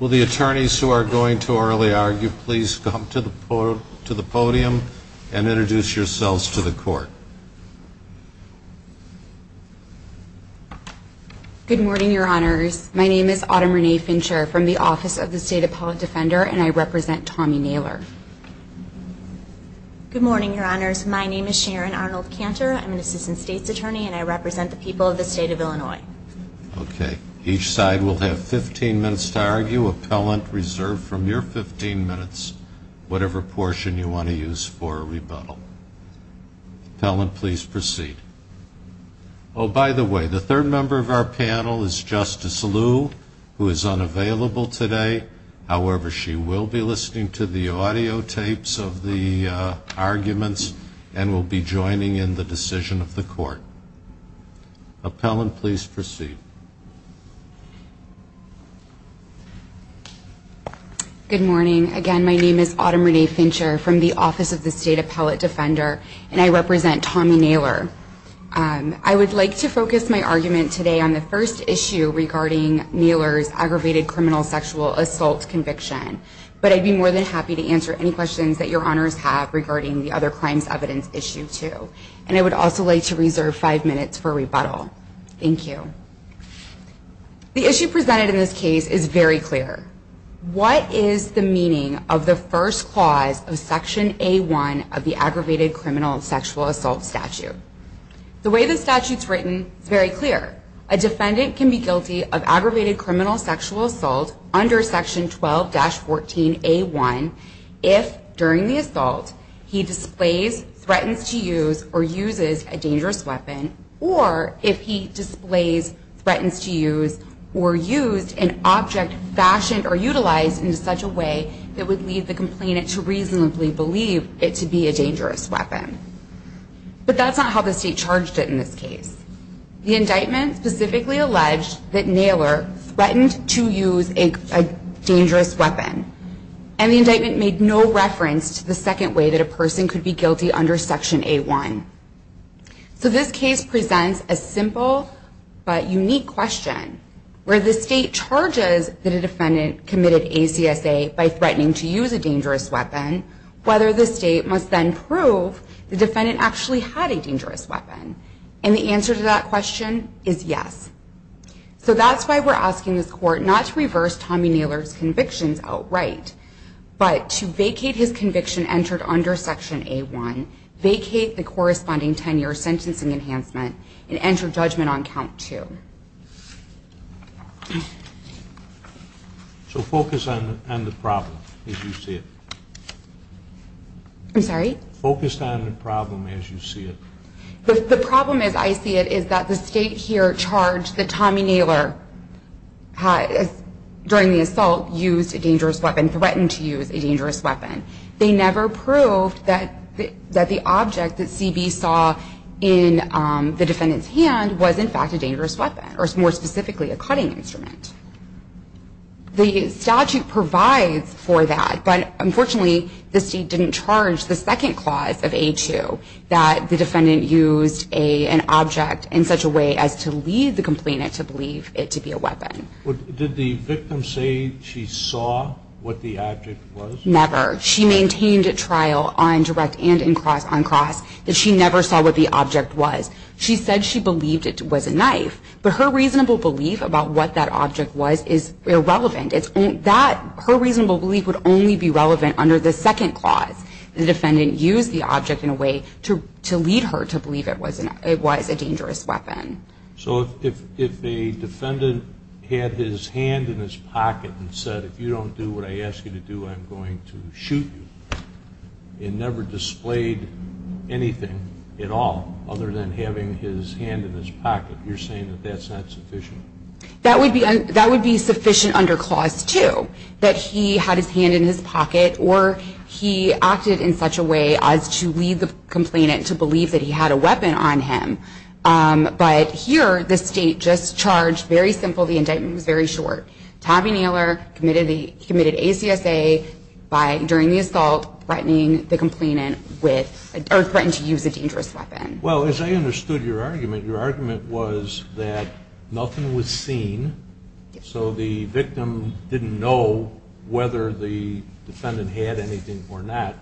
Will the attorneys who are going to orally argue please come to the podium and introduce yourselves to the court. Good morning your honors. My name is Autumn Renee Fincher from the office of the State Appellate Defender and I represent Tommy Naylor. Good morning your honors. My name is Sharon Arnold Cantor. I'm an assistant state's attorney and I represent the people of the state of Illinois. Okay. Each side will have 15 minutes to argue. Appellant reserve from your 15 minutes whatever portion you want to use for a rebuttal. Appellant please proceed. Oh by the way, the third member of our panel is Justice Liu who is unavailable today, however she will be listening to the audio tapes of the arguments and will be joining in the decision of the court. Appellant please proceed. Good morning. Again, my name is Autumn Renee Fincher from the office of the State Appellate Defender and I represent Tommy Naylor. I would like to focus my argument today on the first issue regarding Naylor's aggravated criminal sexual assault conviction, but I'd be more than happy to answer any questions that your honors have regarding the other crimes evidence issue too. And I would also like to reserve five minutes for rebuttal. Thank you. The issue presented in this case is very clear. What is the meaning of the first clause of section A1 of the aggravated criminal sexual assault statute? The way the statute is written is very clear. A defendant can be guilty of aggravated criminal sexual assault under section 12-14A1 if during the assault he displays, threatens to use, or uses a dangerous weapon, or if he displays, threatens to use, or used an object fashioned or utilized in such a way that would lead the complainant to reasonably believe it to be a dangerous weapon. But that's not how the state charged it in this case. The indictment specifically alleged that Naylor threatened to use a dangerous weapon. And the indictment made no reference to the second way that a person could be guilty under section A1. So this case presents a simple but unique question. Where the state charges that a defendant committed ACSA by threatening to use a dangerous weapon, whether the state must then prove the defendant actually had a dangerous weapon. And the answer to that question is yes. So that's why we're asking this court not to reverse Tommy Naylor's convictions outright, but to vacate his conviction entered under section A1, vacate the corresponding 10-year sentencing enhancement, and enter judgment on count two. So focus on the problem as you see it. I'm sorry? Focus on the problem as you see it. The problem as I see it is that the state here charged that Tommy Naylor during the assault used a dangerous weapon, threatened to use a dangerous weapon. They never proved that the object that CB saw in the defendant's hand was in fact a dangerous weapon, or more specifically a cutting instrument. The statute provides for that, but unfortunately the state didn't charge the second clause of A2 that the defendant used an object in such a way as to lead the complainant to believe it to be a weapon. Did the victim say she saw what the object was? Never. She maintained at trial on direct and on cross that she never saw what the object was. She said she believed it was a knife, but her reasonable belief about what that object was is irrelevant. Her reasonable belief would only be relevant under the second clause. The defendant used the object in a way to lead her to believe it was a dangerous weapon. So if a defendant had his hand in his pocket and said, if you don't do what I ask you to do, I'm going to shoot you, and never displayed anything at all other than having his hand in his pocket, you're saying that that's not sufficient? That would be sufficient under clause two, that he had his hand in his pocket, or he acted in such a way as to lead the complainant to believe that he had a weapon on him. But here, the state just charged, very simple, the indictment was very short. Tommy Naylor committed ACSA during the assault, threatening the complainant with, or threatened to use a dangerous weapon. Well, as I understood your argument, your argument was that nothing was seen. So the victim didn't know whether the defendant had anything or not.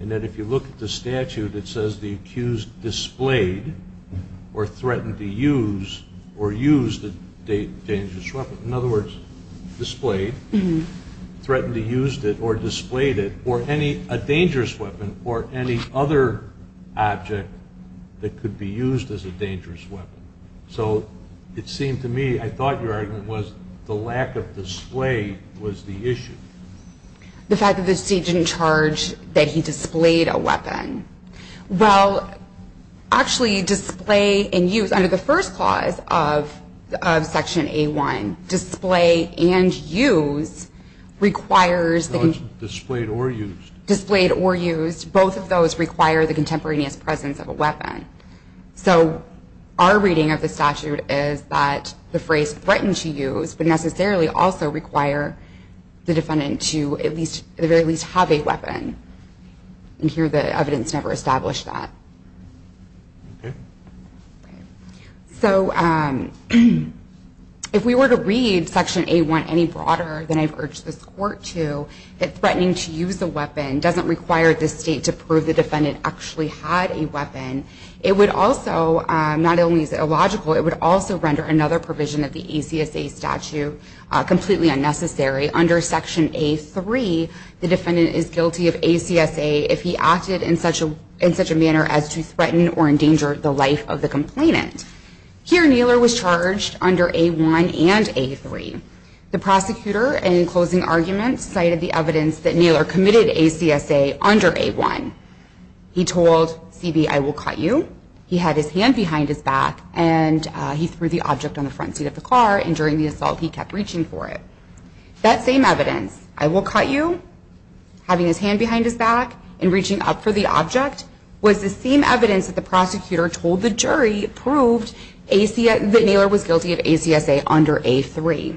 And that if you look at the statute, it says the accused displayed, or threatened to use, or used a dangerous weapon. In other words, displayed, threatened to use it, or displayed it, or a dangerous weapon, or any other object that could be used as a dangerous weapon. So it seemed to me, I thought your argument was the lack of display was the issue. The fact that the state didn't charge that he displayed a weapon. Well, actually, display and use, under the first clause of section A1, display and use requires that he- No, it's displayed or used. Displayed or used, both of those require the contemporaneous presence of a weapon. So our reading of the statute is that the phrase threatened to use would necessarily also require the defendant to at least, at the very least, have a weapon. And here, the evidence never established that. So if we were to read section A1 any broader than I've urged this court to, that threatening to use a weapon doesn't require this state to prove the defendant actually had a weapon, it would also, not only is it illogical, it would also render another provision of the ACSA statute completely unnecessary. Under section A3, the defendant is guilty of ACSA if he acted in such a manner as to threaten or endanger the life of the complainant. Here, Kneeler was charged under A1 and A3. The prosecutor, in closing argument, cited the evidence that Kneeler committed ACSA under A1. He told CB, I will cut you. He had his hand behind his back, and he threw the object on the front seat of the car, and during the assault, he kept reaching for it. That same evidence, I will cut you, having his hand behind his back, and reaching up for the object, was the same evidence that the prosecutor told the jury proved that Kneeler was guilty of ACSA under A3.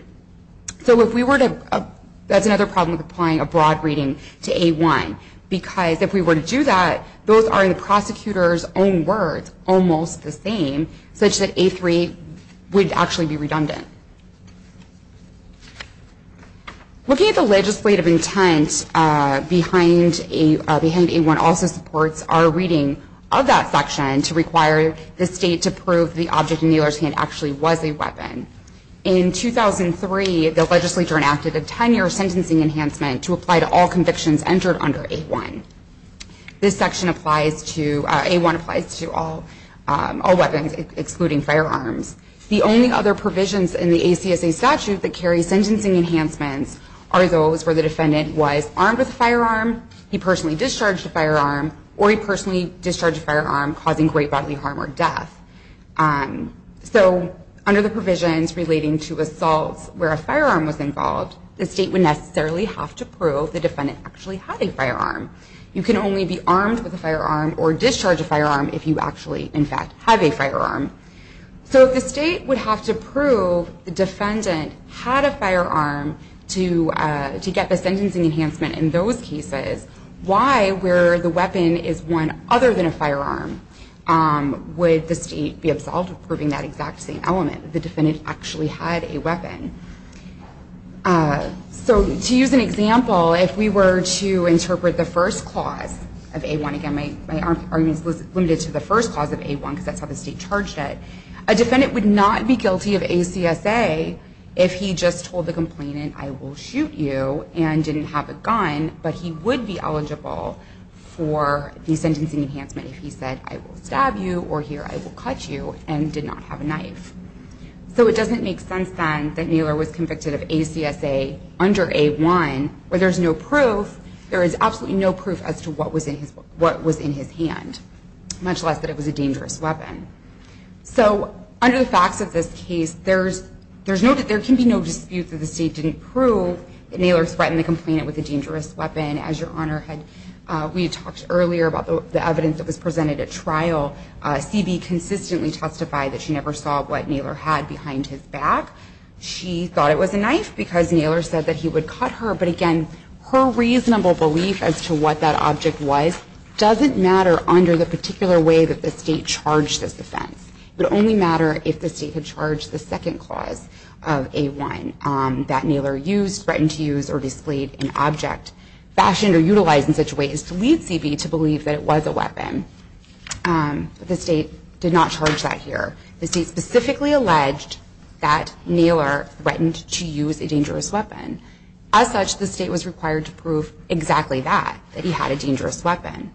So that's another problem with applying a broad reading to A1, because if we were to do that, those are the prosecutor's own words, almost the same, such that A3 would actually be redundant. Looking at the legislative intent behind A1 also supports our reading of that section to require the state to prove the object in Kneeler's hand actually was a weapon. In 2003, the legislature enacted a 10-year sentencing enhancement to apply to all convictions entered under A1. This section applies to, A1 applies to all weapons, excluding firearms. The only other provisions in the ACSA statute that carry sentencing enhancements are those where the defendant was armed with a firearm, he personally discharged a firearm, or he personally discharged a firearm, causing great bodily harm or death. So under the provisions relating to assaults where a firearm was involved, the state would necessarily have to prove the defendant actually had a firearm. You can only be armed with a firearm or discharge a firearm if you actually, in fact, have a firearm. So if the state would have to prove the defendant had a firearm to get the sentencing enhancement in those cases, why, where the weapon is one other than a firearm, would the state be absolved of proving that exact same element, the defendant actually had a weapon? So to use an example, if we were to interpret the first clause of A1, again, my argument is limited to the first clause of A1 because that's how the state charged it. A defendant would not be guilty of ACSA if he just told the complainant, I will shoot you, and didn't have a gun. But he would be eligible for the sentencing enhancement if he said, I will stab you, or here, I will cut you, and did not have a knife. So it doesn't make sense, then, that Naylor was convicted of ACSA under A1 where there's no proof. There is absolutely no proof as to what was in his hand, much less that it was a dangerous weapon. So under the facts of this case, there can be no dispute that the state didn't prove that Naylor threatened the complainant with a dangerous weapon. As your honor, we talked earlier about the evidence that was presented at trial. CB consistently testified that she never saw what Naylor had behind his back. She thought it was a knife because Naylor said that he would cut her. But again, her reasonable belief as to what that object was doesn't matter under the particular way that the state charged this offense. It would only matter if the state had charged the second clause of A1 that Naylor used, threatened to use, or displayed an object fashioned or utilized in such a way as to lead CB to believe that it was a weapon. The state did not charge that here. The state specifically alleged that Naylor threatened to use a dangerous weapon. As such, the state was required to prove exactly that, that he had a dangerous weapon.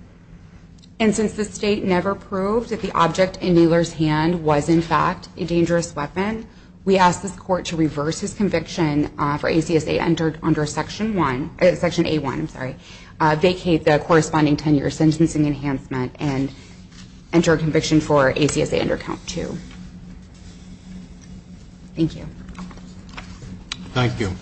And since the state never proved that the object in Naylor's hand was, in fact, a dangerous weapon, we ask this court to reverse his conviction for ACSA under Section A1, vacate the corresponding 10-year sentencing enhancement, and enter a conviction for ACSA under Count 2. Thank you. Thank you. Thank you.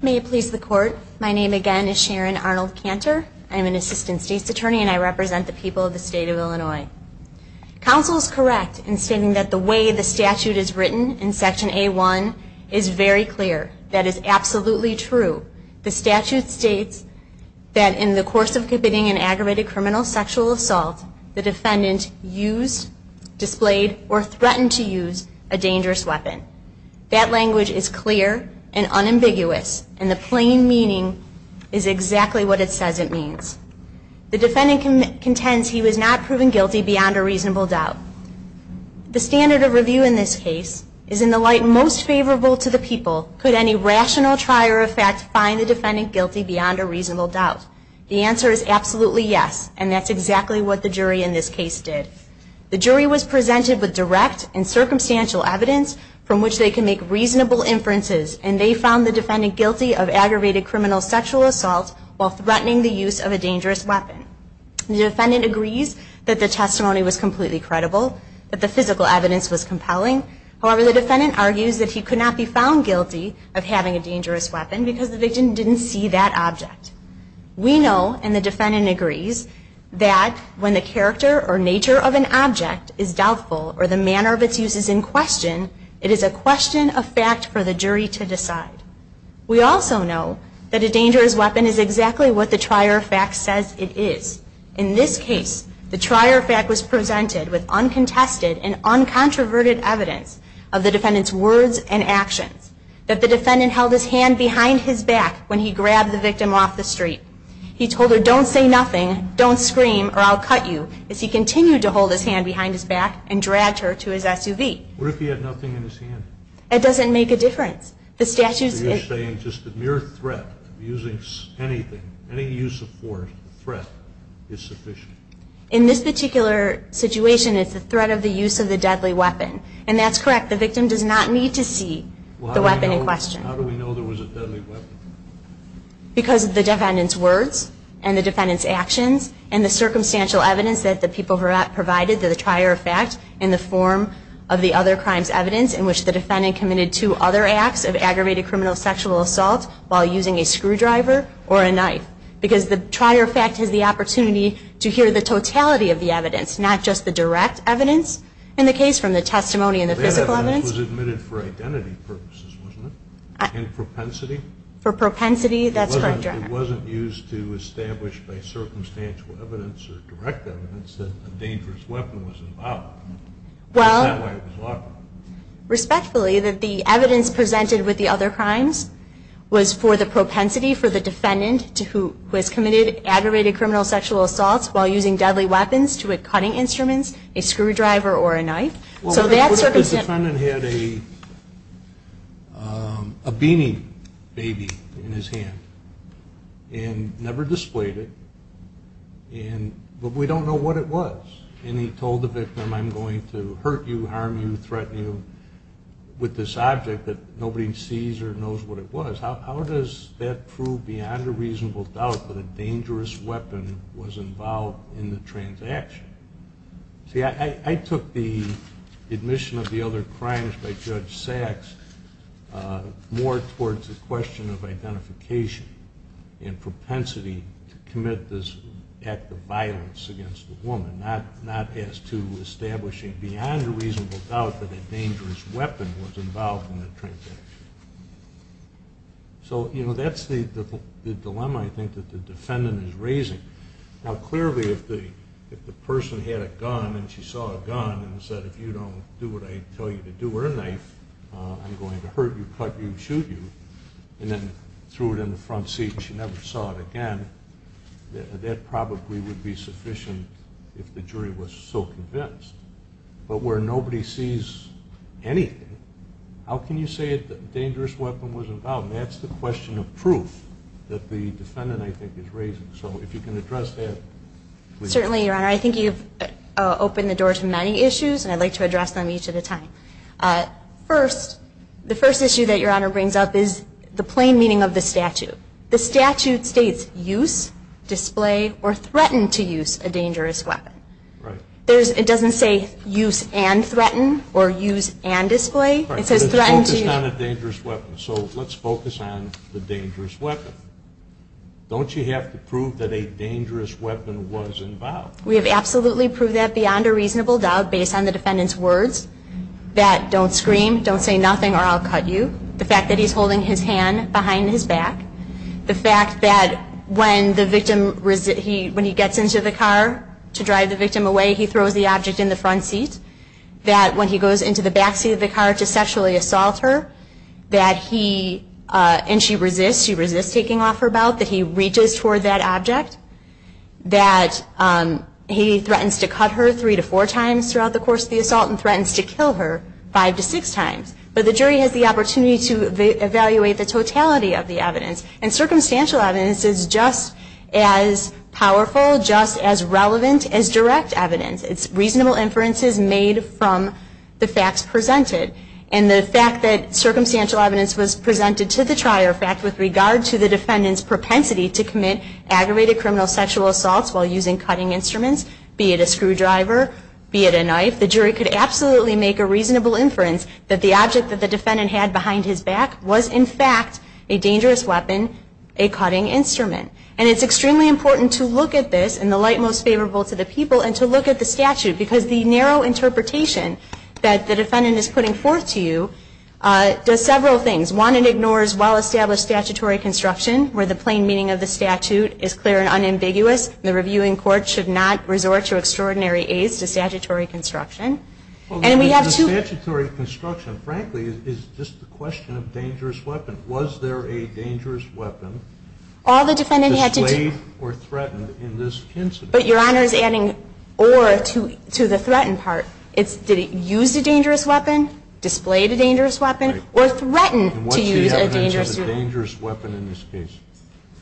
May it please the court. My name, again, is Sharon Arnold Cantor. I'm an assistant state's attorney, and I represent the people of the state of Illinois. Counsel is correct in stating that the way the statute is written in Section A1 is very clear. That is absolutely true. The statute states that in the course of committing an aggravated criminal sexual assault, the defendant used, displayed, or threatened to use a dangerous weapon. That language is clear and unambiguous, and the plain meaning is exactly what it says it means. The defendant contends he was not proven guilty beyond a reasonable doubt. The standard of review in this case is, in the light most favorable to the people, could any rational trier of fact find the defendant guilty beyond a reasonable doubt? The answer is absolutely yes, and that's exactly what the jury in this case did. The jury was presented with direct and circumstantial evidence from which they can make reasonable inferences, and they found the defendant guilty of aggravated criminal sexual assault while threatening the use of a dangerous weapon. The defendant agrees that the testimony was completely credible, that the physical evidence was compelling. However, the defendant argues that he could not be found guilty of having a dangerous weapon because the victim didn't see that object. We know, and the defendant agrees, that when the character or nature of an object is doubtful or the manner of its use is in question, it is a question of fact for the jury to decide. In this case, the trier of fact was presented with uncontested and uncontroverted evidence of the defendant's words and actions, that the defendant held his hand behind his back when he grabbed the victim off the street. He told her, don't say nothing, don't scream, or I'll cut you, as he continued to hold his hand behind his back and dragged her to his SUV. What if he had nothing in his hand? It doesn't make a difference. The statute is saying just a mere threat of using anything, any use of force or threat is sufficient. In this particular situation, it's the threat of the use of the deadly weapon. And that's correct, the victim does not need to see the weapon in question. How do we know there was a deadly weapon? Because of the defendant's words, and the defendant's actions, and the circumstantial evidence that the people provided to the trier of fact in the form of the other crimes evidence in which the defendant committed two other acts of aggravated criminal sexual assault while using a screwdriver or a knife. Because the trier of fact has the opportunity to hear the totality of the evidence, not just the direct evidence in the case from the testimony and the physical evidence. That evidence was admitted for identity purposes, wasn't it? And propensity? For propensity, that's correct, Your Honor. It wasn't used to establish by circumstantial evidence or direct evidence that a dangerous weapon was involved. Well, respectfully, that the evidence presented with the other crimes was for the propensity for the defendant who has committed aggravated criminal sexual assaults while using deadly weapons to a cutting instruments, a screwdriver, or a knife. So that's circumstantial. Well, what if the defendant had a beanie baby in his hand, and never displayed it, but we don't know what it was. And he told the victim, I'm going to hurt you, harm you, threaten you with this object that nobody sees or knows what it was. How does that prove beyond a reasonable doubt that a dangerous weapon was involved in the transaction? See, I took the admission of the other crimes by Judge Sacks more towards the question of identification and propensity to commit this act of violence against a woman, not as to establishing beyond a reasonable doubt that a dangerous weapon was involved in the transaction. So that's the dilemma, I think, that the defendant is raising. Now, clearly, if the person had a gun and she saw a gun and said, if you don't do what I tell you to do or a knife, I'm going to hurt you, cut you, shoot you, and then threw it in the front seat and she never saw it again, that probably would be sufficient if the jury was so convinced. But where nobody sees anything, how can you say that a dangerous weapon was involved? And that's the question of proof that the defendant, I think, is raising. So if you can address that, please. Certainly, Your Honor. I think you've opened the door to many issues, and I'd like to address them each at a time. The first issue that Your Honor brings up is the plain meaning of the statute. The statute states, use, display, or threaten to use a dangerous weapon. It doesn't say use and threaten or use and display. It says threaten to use. It's focused on a dangerous weapon. So let's focus on the dangerous weapon. Don't you have to prove that a dangerous weapon was involved? We have absolutely proved that beyond a reasonable doubt based on the defendant's words. That don't scream, don't say nothing, or I'll cut you. The fact that he's holding his hand behind his back. The fact that when the victim, when he gets into the car to drive the victim away, he throws the object in the front seat. That when he goes into the back seat of the car to sexually assault her, that he, and she resists. She resists taking off her belt. That he reaches toward that object. That he threatens to cut her three to four times throughout the course of the assault, and threatens to kill her five to six times. But the jury has the opportunity to evaluate the totality of the evidence. And circumstantial evidence is just as powerful, just as relevant as direct evidence. It's reasonable inferences made from the facts presented. And the fact that circumstantial evidence was presented to the trier. In fact, with regard to the defendant's propensity to commit aggravated criminal sexual assaults while using cutting instruments. Be it a screwdriver, be it a knife. The jury could absolutely make a reasonable inference that the object that the defendant had behind his back was in fact a dangerous weapon, a cutting instrument. And it's extremely important to look at this in the light most favorable to the people, and to look at the statute. Because the narrow interpretation that the defendant is putting forth to you does several things. One, it ignores well-established statutory construction, where the plain meaning of the statute is clear and unambiguous. The reviewing court should not resort to extraordinary aides to statutory construction. And we have two. The statutory construction, frankly, is just a question of dangerous weapon. Was there a dangerous weapon? All the defendant had to do. Displayed or threatened in this incident. But your honor is adding or to the threatened part. Did he use a dangerous weapon, displayed a dangerous weapon, or threatened to use a dangerous weapon? And what's the evidence of a dangerous weapon in this case?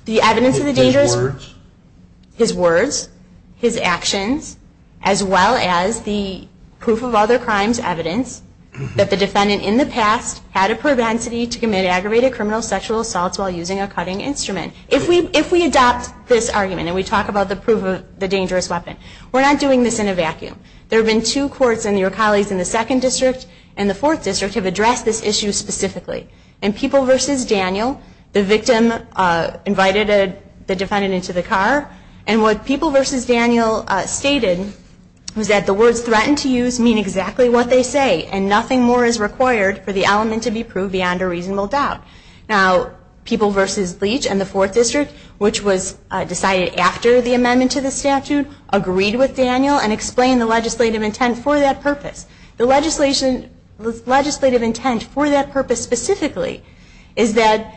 The evidence of the dangerous weapon? His words? His words, his actions, as well as the proof of other crimes evidence that the defendant in the past had a propensity to commit aggravated criminal sexual assaults while using a cutting instrument. If we adopt this argument, and we talk about the proof of the dangerous weapon, we're not doing this in a vacuum. There have been two courts, and your colleagues in the Second District and the Fourth District have addressed this issue specifically. In People v. Daniel, the victim invited the defendant into the car. And what People v. Daniel stated was that the words threatened to use mean exactly what they say. And nothing more is required for the element to be proved beyond a reasonable doubt. Now, People v. Leach and the Fourth District, which was decided after the amendment to the statute, agreed with Daniel and explained the legislative intent for that purpose. The legislative intent for that purpose specifically is that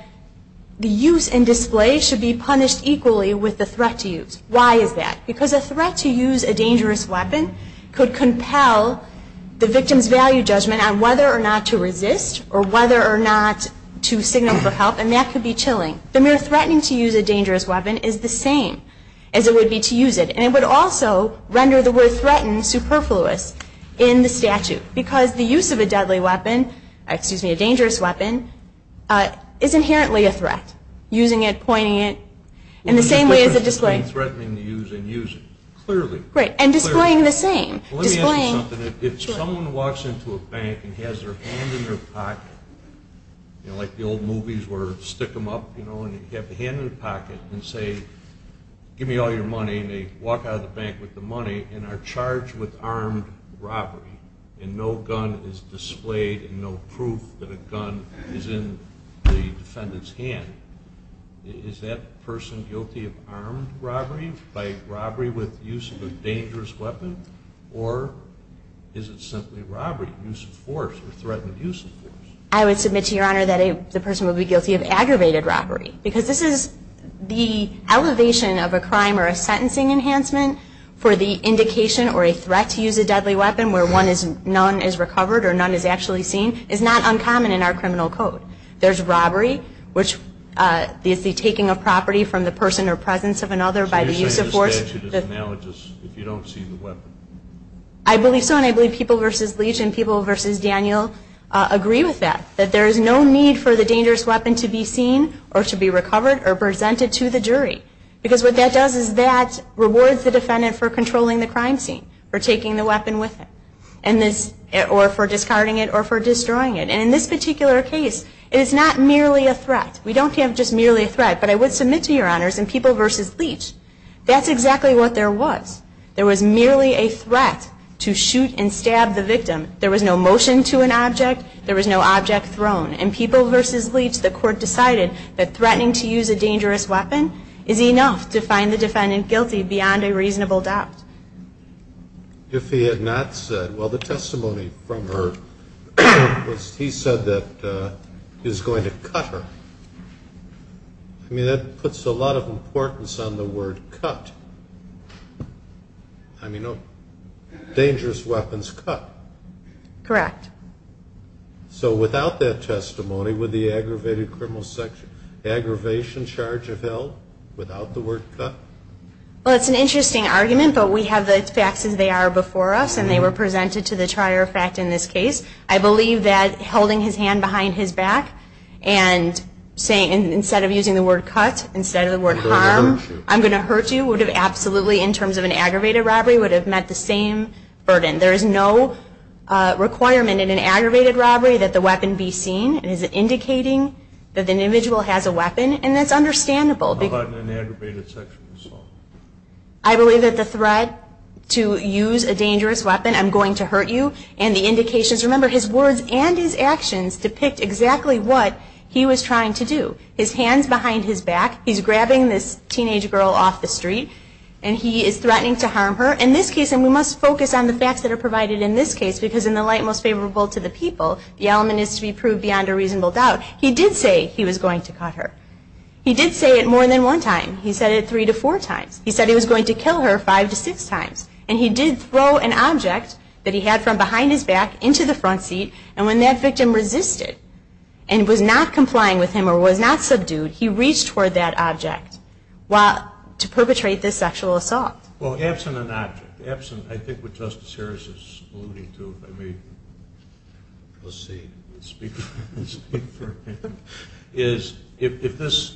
the use and display should be punished equally with the threat to use. Why is that? Because a threat to use a dangerous weapon could compel the victim's value judgment on whether or not to resist, or whether or not to signal for help. And that could be chilling. The mere threatening to use a dangerous weapon is the same as it would be to use it. And it would also render the word threatened superfluous in the statute, because the use of a deadly weapon, excuse me, a dangerous weapon, is inherently a threat. Using it, pointing it, in the same way as a display. Threatening to use and use it, clearly. Right, and displaying the same. Let me ask you something. If someone walks into a bank and has their hand in their pocket, like the old movies where you stick them up, and you have the hand in the pocket, and say, give me all your money, and they walk out of the bank with the money, and are charged with armed robbery, and no gun is displayed, and no proof that a gun is in the defendant's hand, is that person guilty of armed robbery by robbery with use of a dangerous weapon? Or is it simply robbery, use of force, or threatened use of force? I would submit to your honor that the person would be guilty of aggravated robbery. Because this is the elevation of a crime or a sentencing enhancement for the indication or a threat to use a deadly weapon, where none is recovered or none is actually seen, is not uncommon in our criminal code. There's robbery, which is the taking of property from the person or presence of another by the use of force. If you don't see the weapon. I believe so, and I believe People v. Leach and People v. Daniel agree with that, that there is no need for the dangerous weapon to be seen, or to be recovered, or presented to the jury. Because what that does is that rewards the defendant for controlling the crime scene, for taking the weapon with it, or for discarding it, or for destroying it. And in this particular case, it is not merely a threat. We don't have just merely a threat. But I would submit to your honors in People v. Leach, that's exactly what there was. There was merely a threat to shoot and stab the victim. There was no motion to an object. There was no object thrown. In People v. Leach, the court decided that threatening to use a dangerous weapon is enough to find the defendant guilty beyond a reasonable doubt. If he had not said, well, the testimony from her was he said that he was going to cut her. I mean, that puts a lot of importance on the word cut. I mean, dangerous weapons cut. Correct. So without that testimony, would the aggravated criminal section aggravation charge have held without the word cut? Well, it's an interesting argument. But we have the facts as they are before us. And they were presented to the trier of fact in this case. I believe that holding his hand behind his back and saying, instead of using the word cut, instead of the word harm, I'm going to hurt you, would have absolutely, in terms of an aggravated robbery, would have met the same burden. There is no requirement in an aggravated robbery that the weapon be seen. It is indicating that the individual has a weapon. And that's understandable. How about in an aggravated section? I believe that the threat to use a dangerous weapon, I'm going to hurt you. And the indications, remember, his words and his actions depict exactly what he was trying to do. His hands behind his back. He's grabbing this teenage girl off the street. And he is threatening to harm her. In this case, and we must focus on the facts that are provided in this case, because in the light most favorable to the people, the element is to be proved beyond a reasonable doubt, he did say he was going to cut her. He did say it more than one time. He said it three to four times. He said he was going to kill her five to six times. And he did throw an object that he had from behind his back into the front seat. And when that victim resisted and was not complying with him or was not subdued, he reached for that object to perpetrate this sexual assault. Well, absent an object, absent, I think what Justice Harris is alluding to, if I may proceed and speak for him, is if this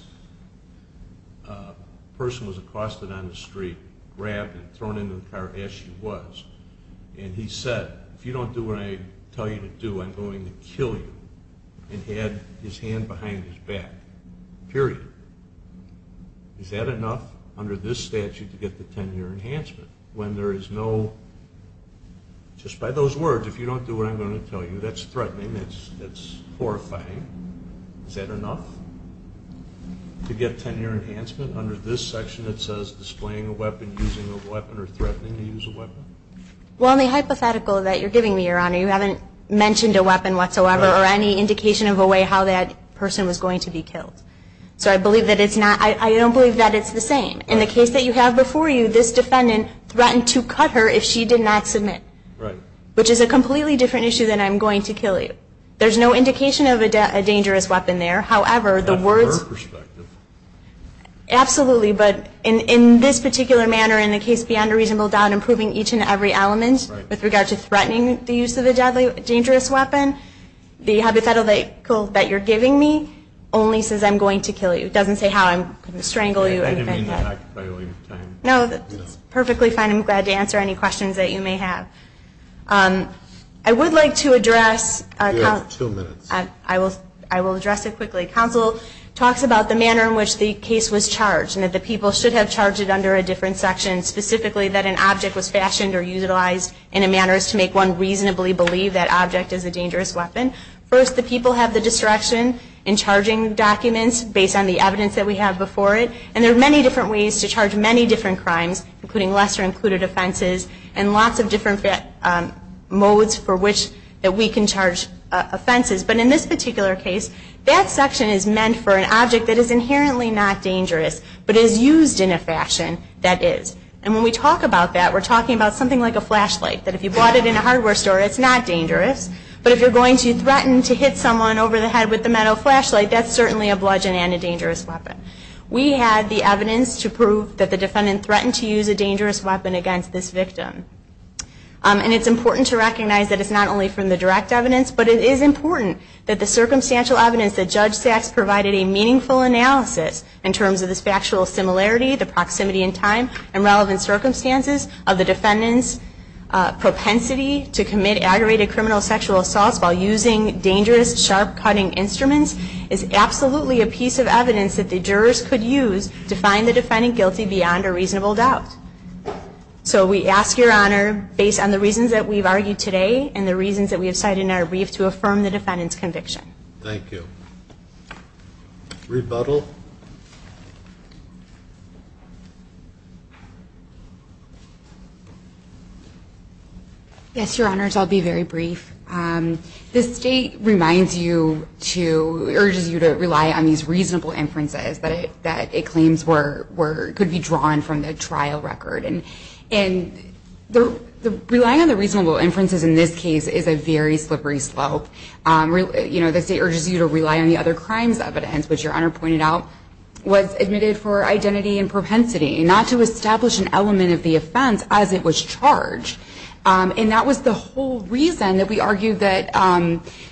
person was accosted on the street, grabbed and thrown into the car as she was, and he said, if you don't do what I tell you to do, I'm going to kill you, and had his hand behind his back. Period. Is that enough under this statute to get the 10-year enhancement? When there is no, just by those words, if you don't do what I'm going to tell you, that's threatening, that's horrifying. Is that enough to get 10-year enhancement? Under this section, it says displaying a weapon, using a weapon, or threatening to use a weapon? Well, in the hypothetical that you're giving me, Your Honor, you haven't mentioned a weapon whatsoever or any indication of a way how that person was going to be killed. So I believe that it's not, I don't believe that it's the same. In the case that you have before you, this defendant threatened to cut her if she did not submit, which is a completely different issue than I'm going to kill you. There's no indication of a dangerous weapon there. However, the words. Not from her perspective. Absolutely. But in this particular manner, in the case beyond a reasonable doubt, improving each and every element with regard to threatening the use of a deadly, dangerous weapon, the hypothetical that you're giving me only says I'm going to kill you. It doesn't say how I'm going to strangle you or anything. I didn't mean that by the way. No, that's perfectly fine. I'm glad to answer any questions that you may have. I would like to address a counsel. You have two minutes. I will address it quickly. Counsel talks about the manner in which the case was charged and that the people should have charged it under a different section. Specifically, that an object was fashioned or utilized in a manner as to make one reasonably believe that object is a dangerous weapon. First, the people have the discretion in charging documents based on the evidence that we have before it. And there are many different ways to charge many different crimes, including lesser included offenses and lots of different modes for which that we can charge offenses. But in this particular case, that section is meant for an object that is inherently not dangerous, but is used in a fashion that is. And when we talk about that, we're talking about something like a flashlight, that if you bought it in a hardware store, it's not dangerous. But if you're going to threaten to hit someone over the head with a metal flashlight, that's certainly a bludgeon and a dangerous weapon. We had the evidence to prove that the defendant threatened to use a dangerous weapon against this victim. And it's important to recognize that it's not only from the direct evidence, but it is important that the circumstantial evidence that Judge Sachs provided a meaningful analysis in terms of this factual similarity, the proximity in time, and relevant circumstances of the defendant's propensity to commit aggravated criminal sexual assaults while using dangerous, sharp-cutting instruments is absolutely a piece of evidence that the jurors could use to find the defendant guilty beyond a reasonable doubt. So we ask your honor, based on the reasons that we've argued today and the reasons that we have cited in our brief, to affirm the defendant's conviction. Thank you. Rebuttal. Yes, your honors, I'll be very brief. The state reminds you to, urges you to rely on these reasonable inferences that it claims could be drawn from the trial record. And relying on the reasonable inferences in this case is a very slippery slope. The state urges you to rely on the other crimes evidence, which your honor pointed out was admitted for identity and propensity, not to establish an element of the offense as it was charged. And that was the whole reason that we argued that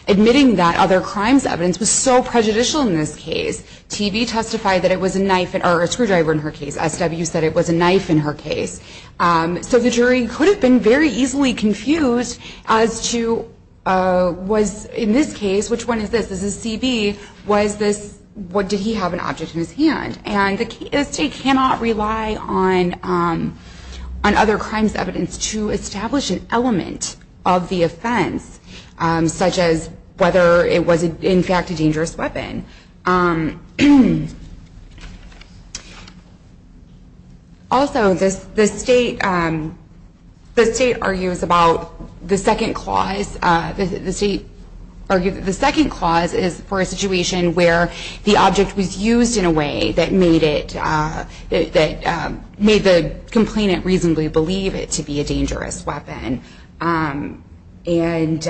admitting that other crimes evidence was so prejudicial in this case. TV testified that it was a knife or a screwdriver in her case. So the jury could have been very easily confused as to was, in this case, which one is this? Is this CB? Was this, did he have an object in his hand? And the state cannot rely on other crimes evidence to establish an element of the offense, such as whether it was, in fact, a dangerous weapon. Also, the state argues about the second clause. The state argued that the second clause is for a situation where the object was used in a way that made the complainant reasonably believe it to be a dangerous weapon. And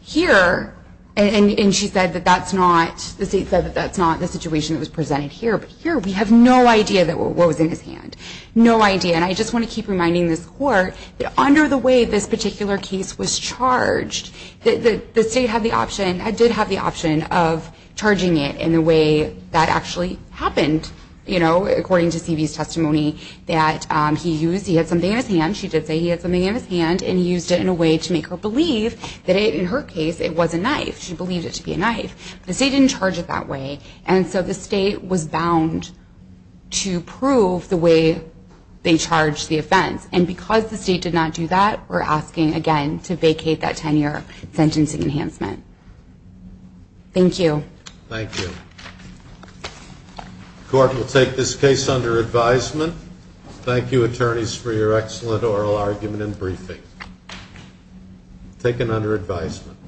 here, and she said that that's not, the state said that that's not the situation that was presented here. But here, we have no idea that what was in his hand. No idea. And I just want to keep reminding this court that under the way this particular case was charged, the state had the option, did have the option of charging it in the way that actually happened. You know, according to CB's testimony, that he used, he had something in his hand. She did say he had something in his hand and used it in a way to make her believe that in her case, it was a knife. She believed it to be a knife. The state didn't charge it that way. And so the state was bound to prove the way they charged the offense. And because the state did not do that, we're asking, again, to vacate that 10-year sentencing enhancement. Thank you. Thank you. Court will take this case under advisement. Thank you, attorneys, for your excellent oral argument and briefing. Taken under advisement.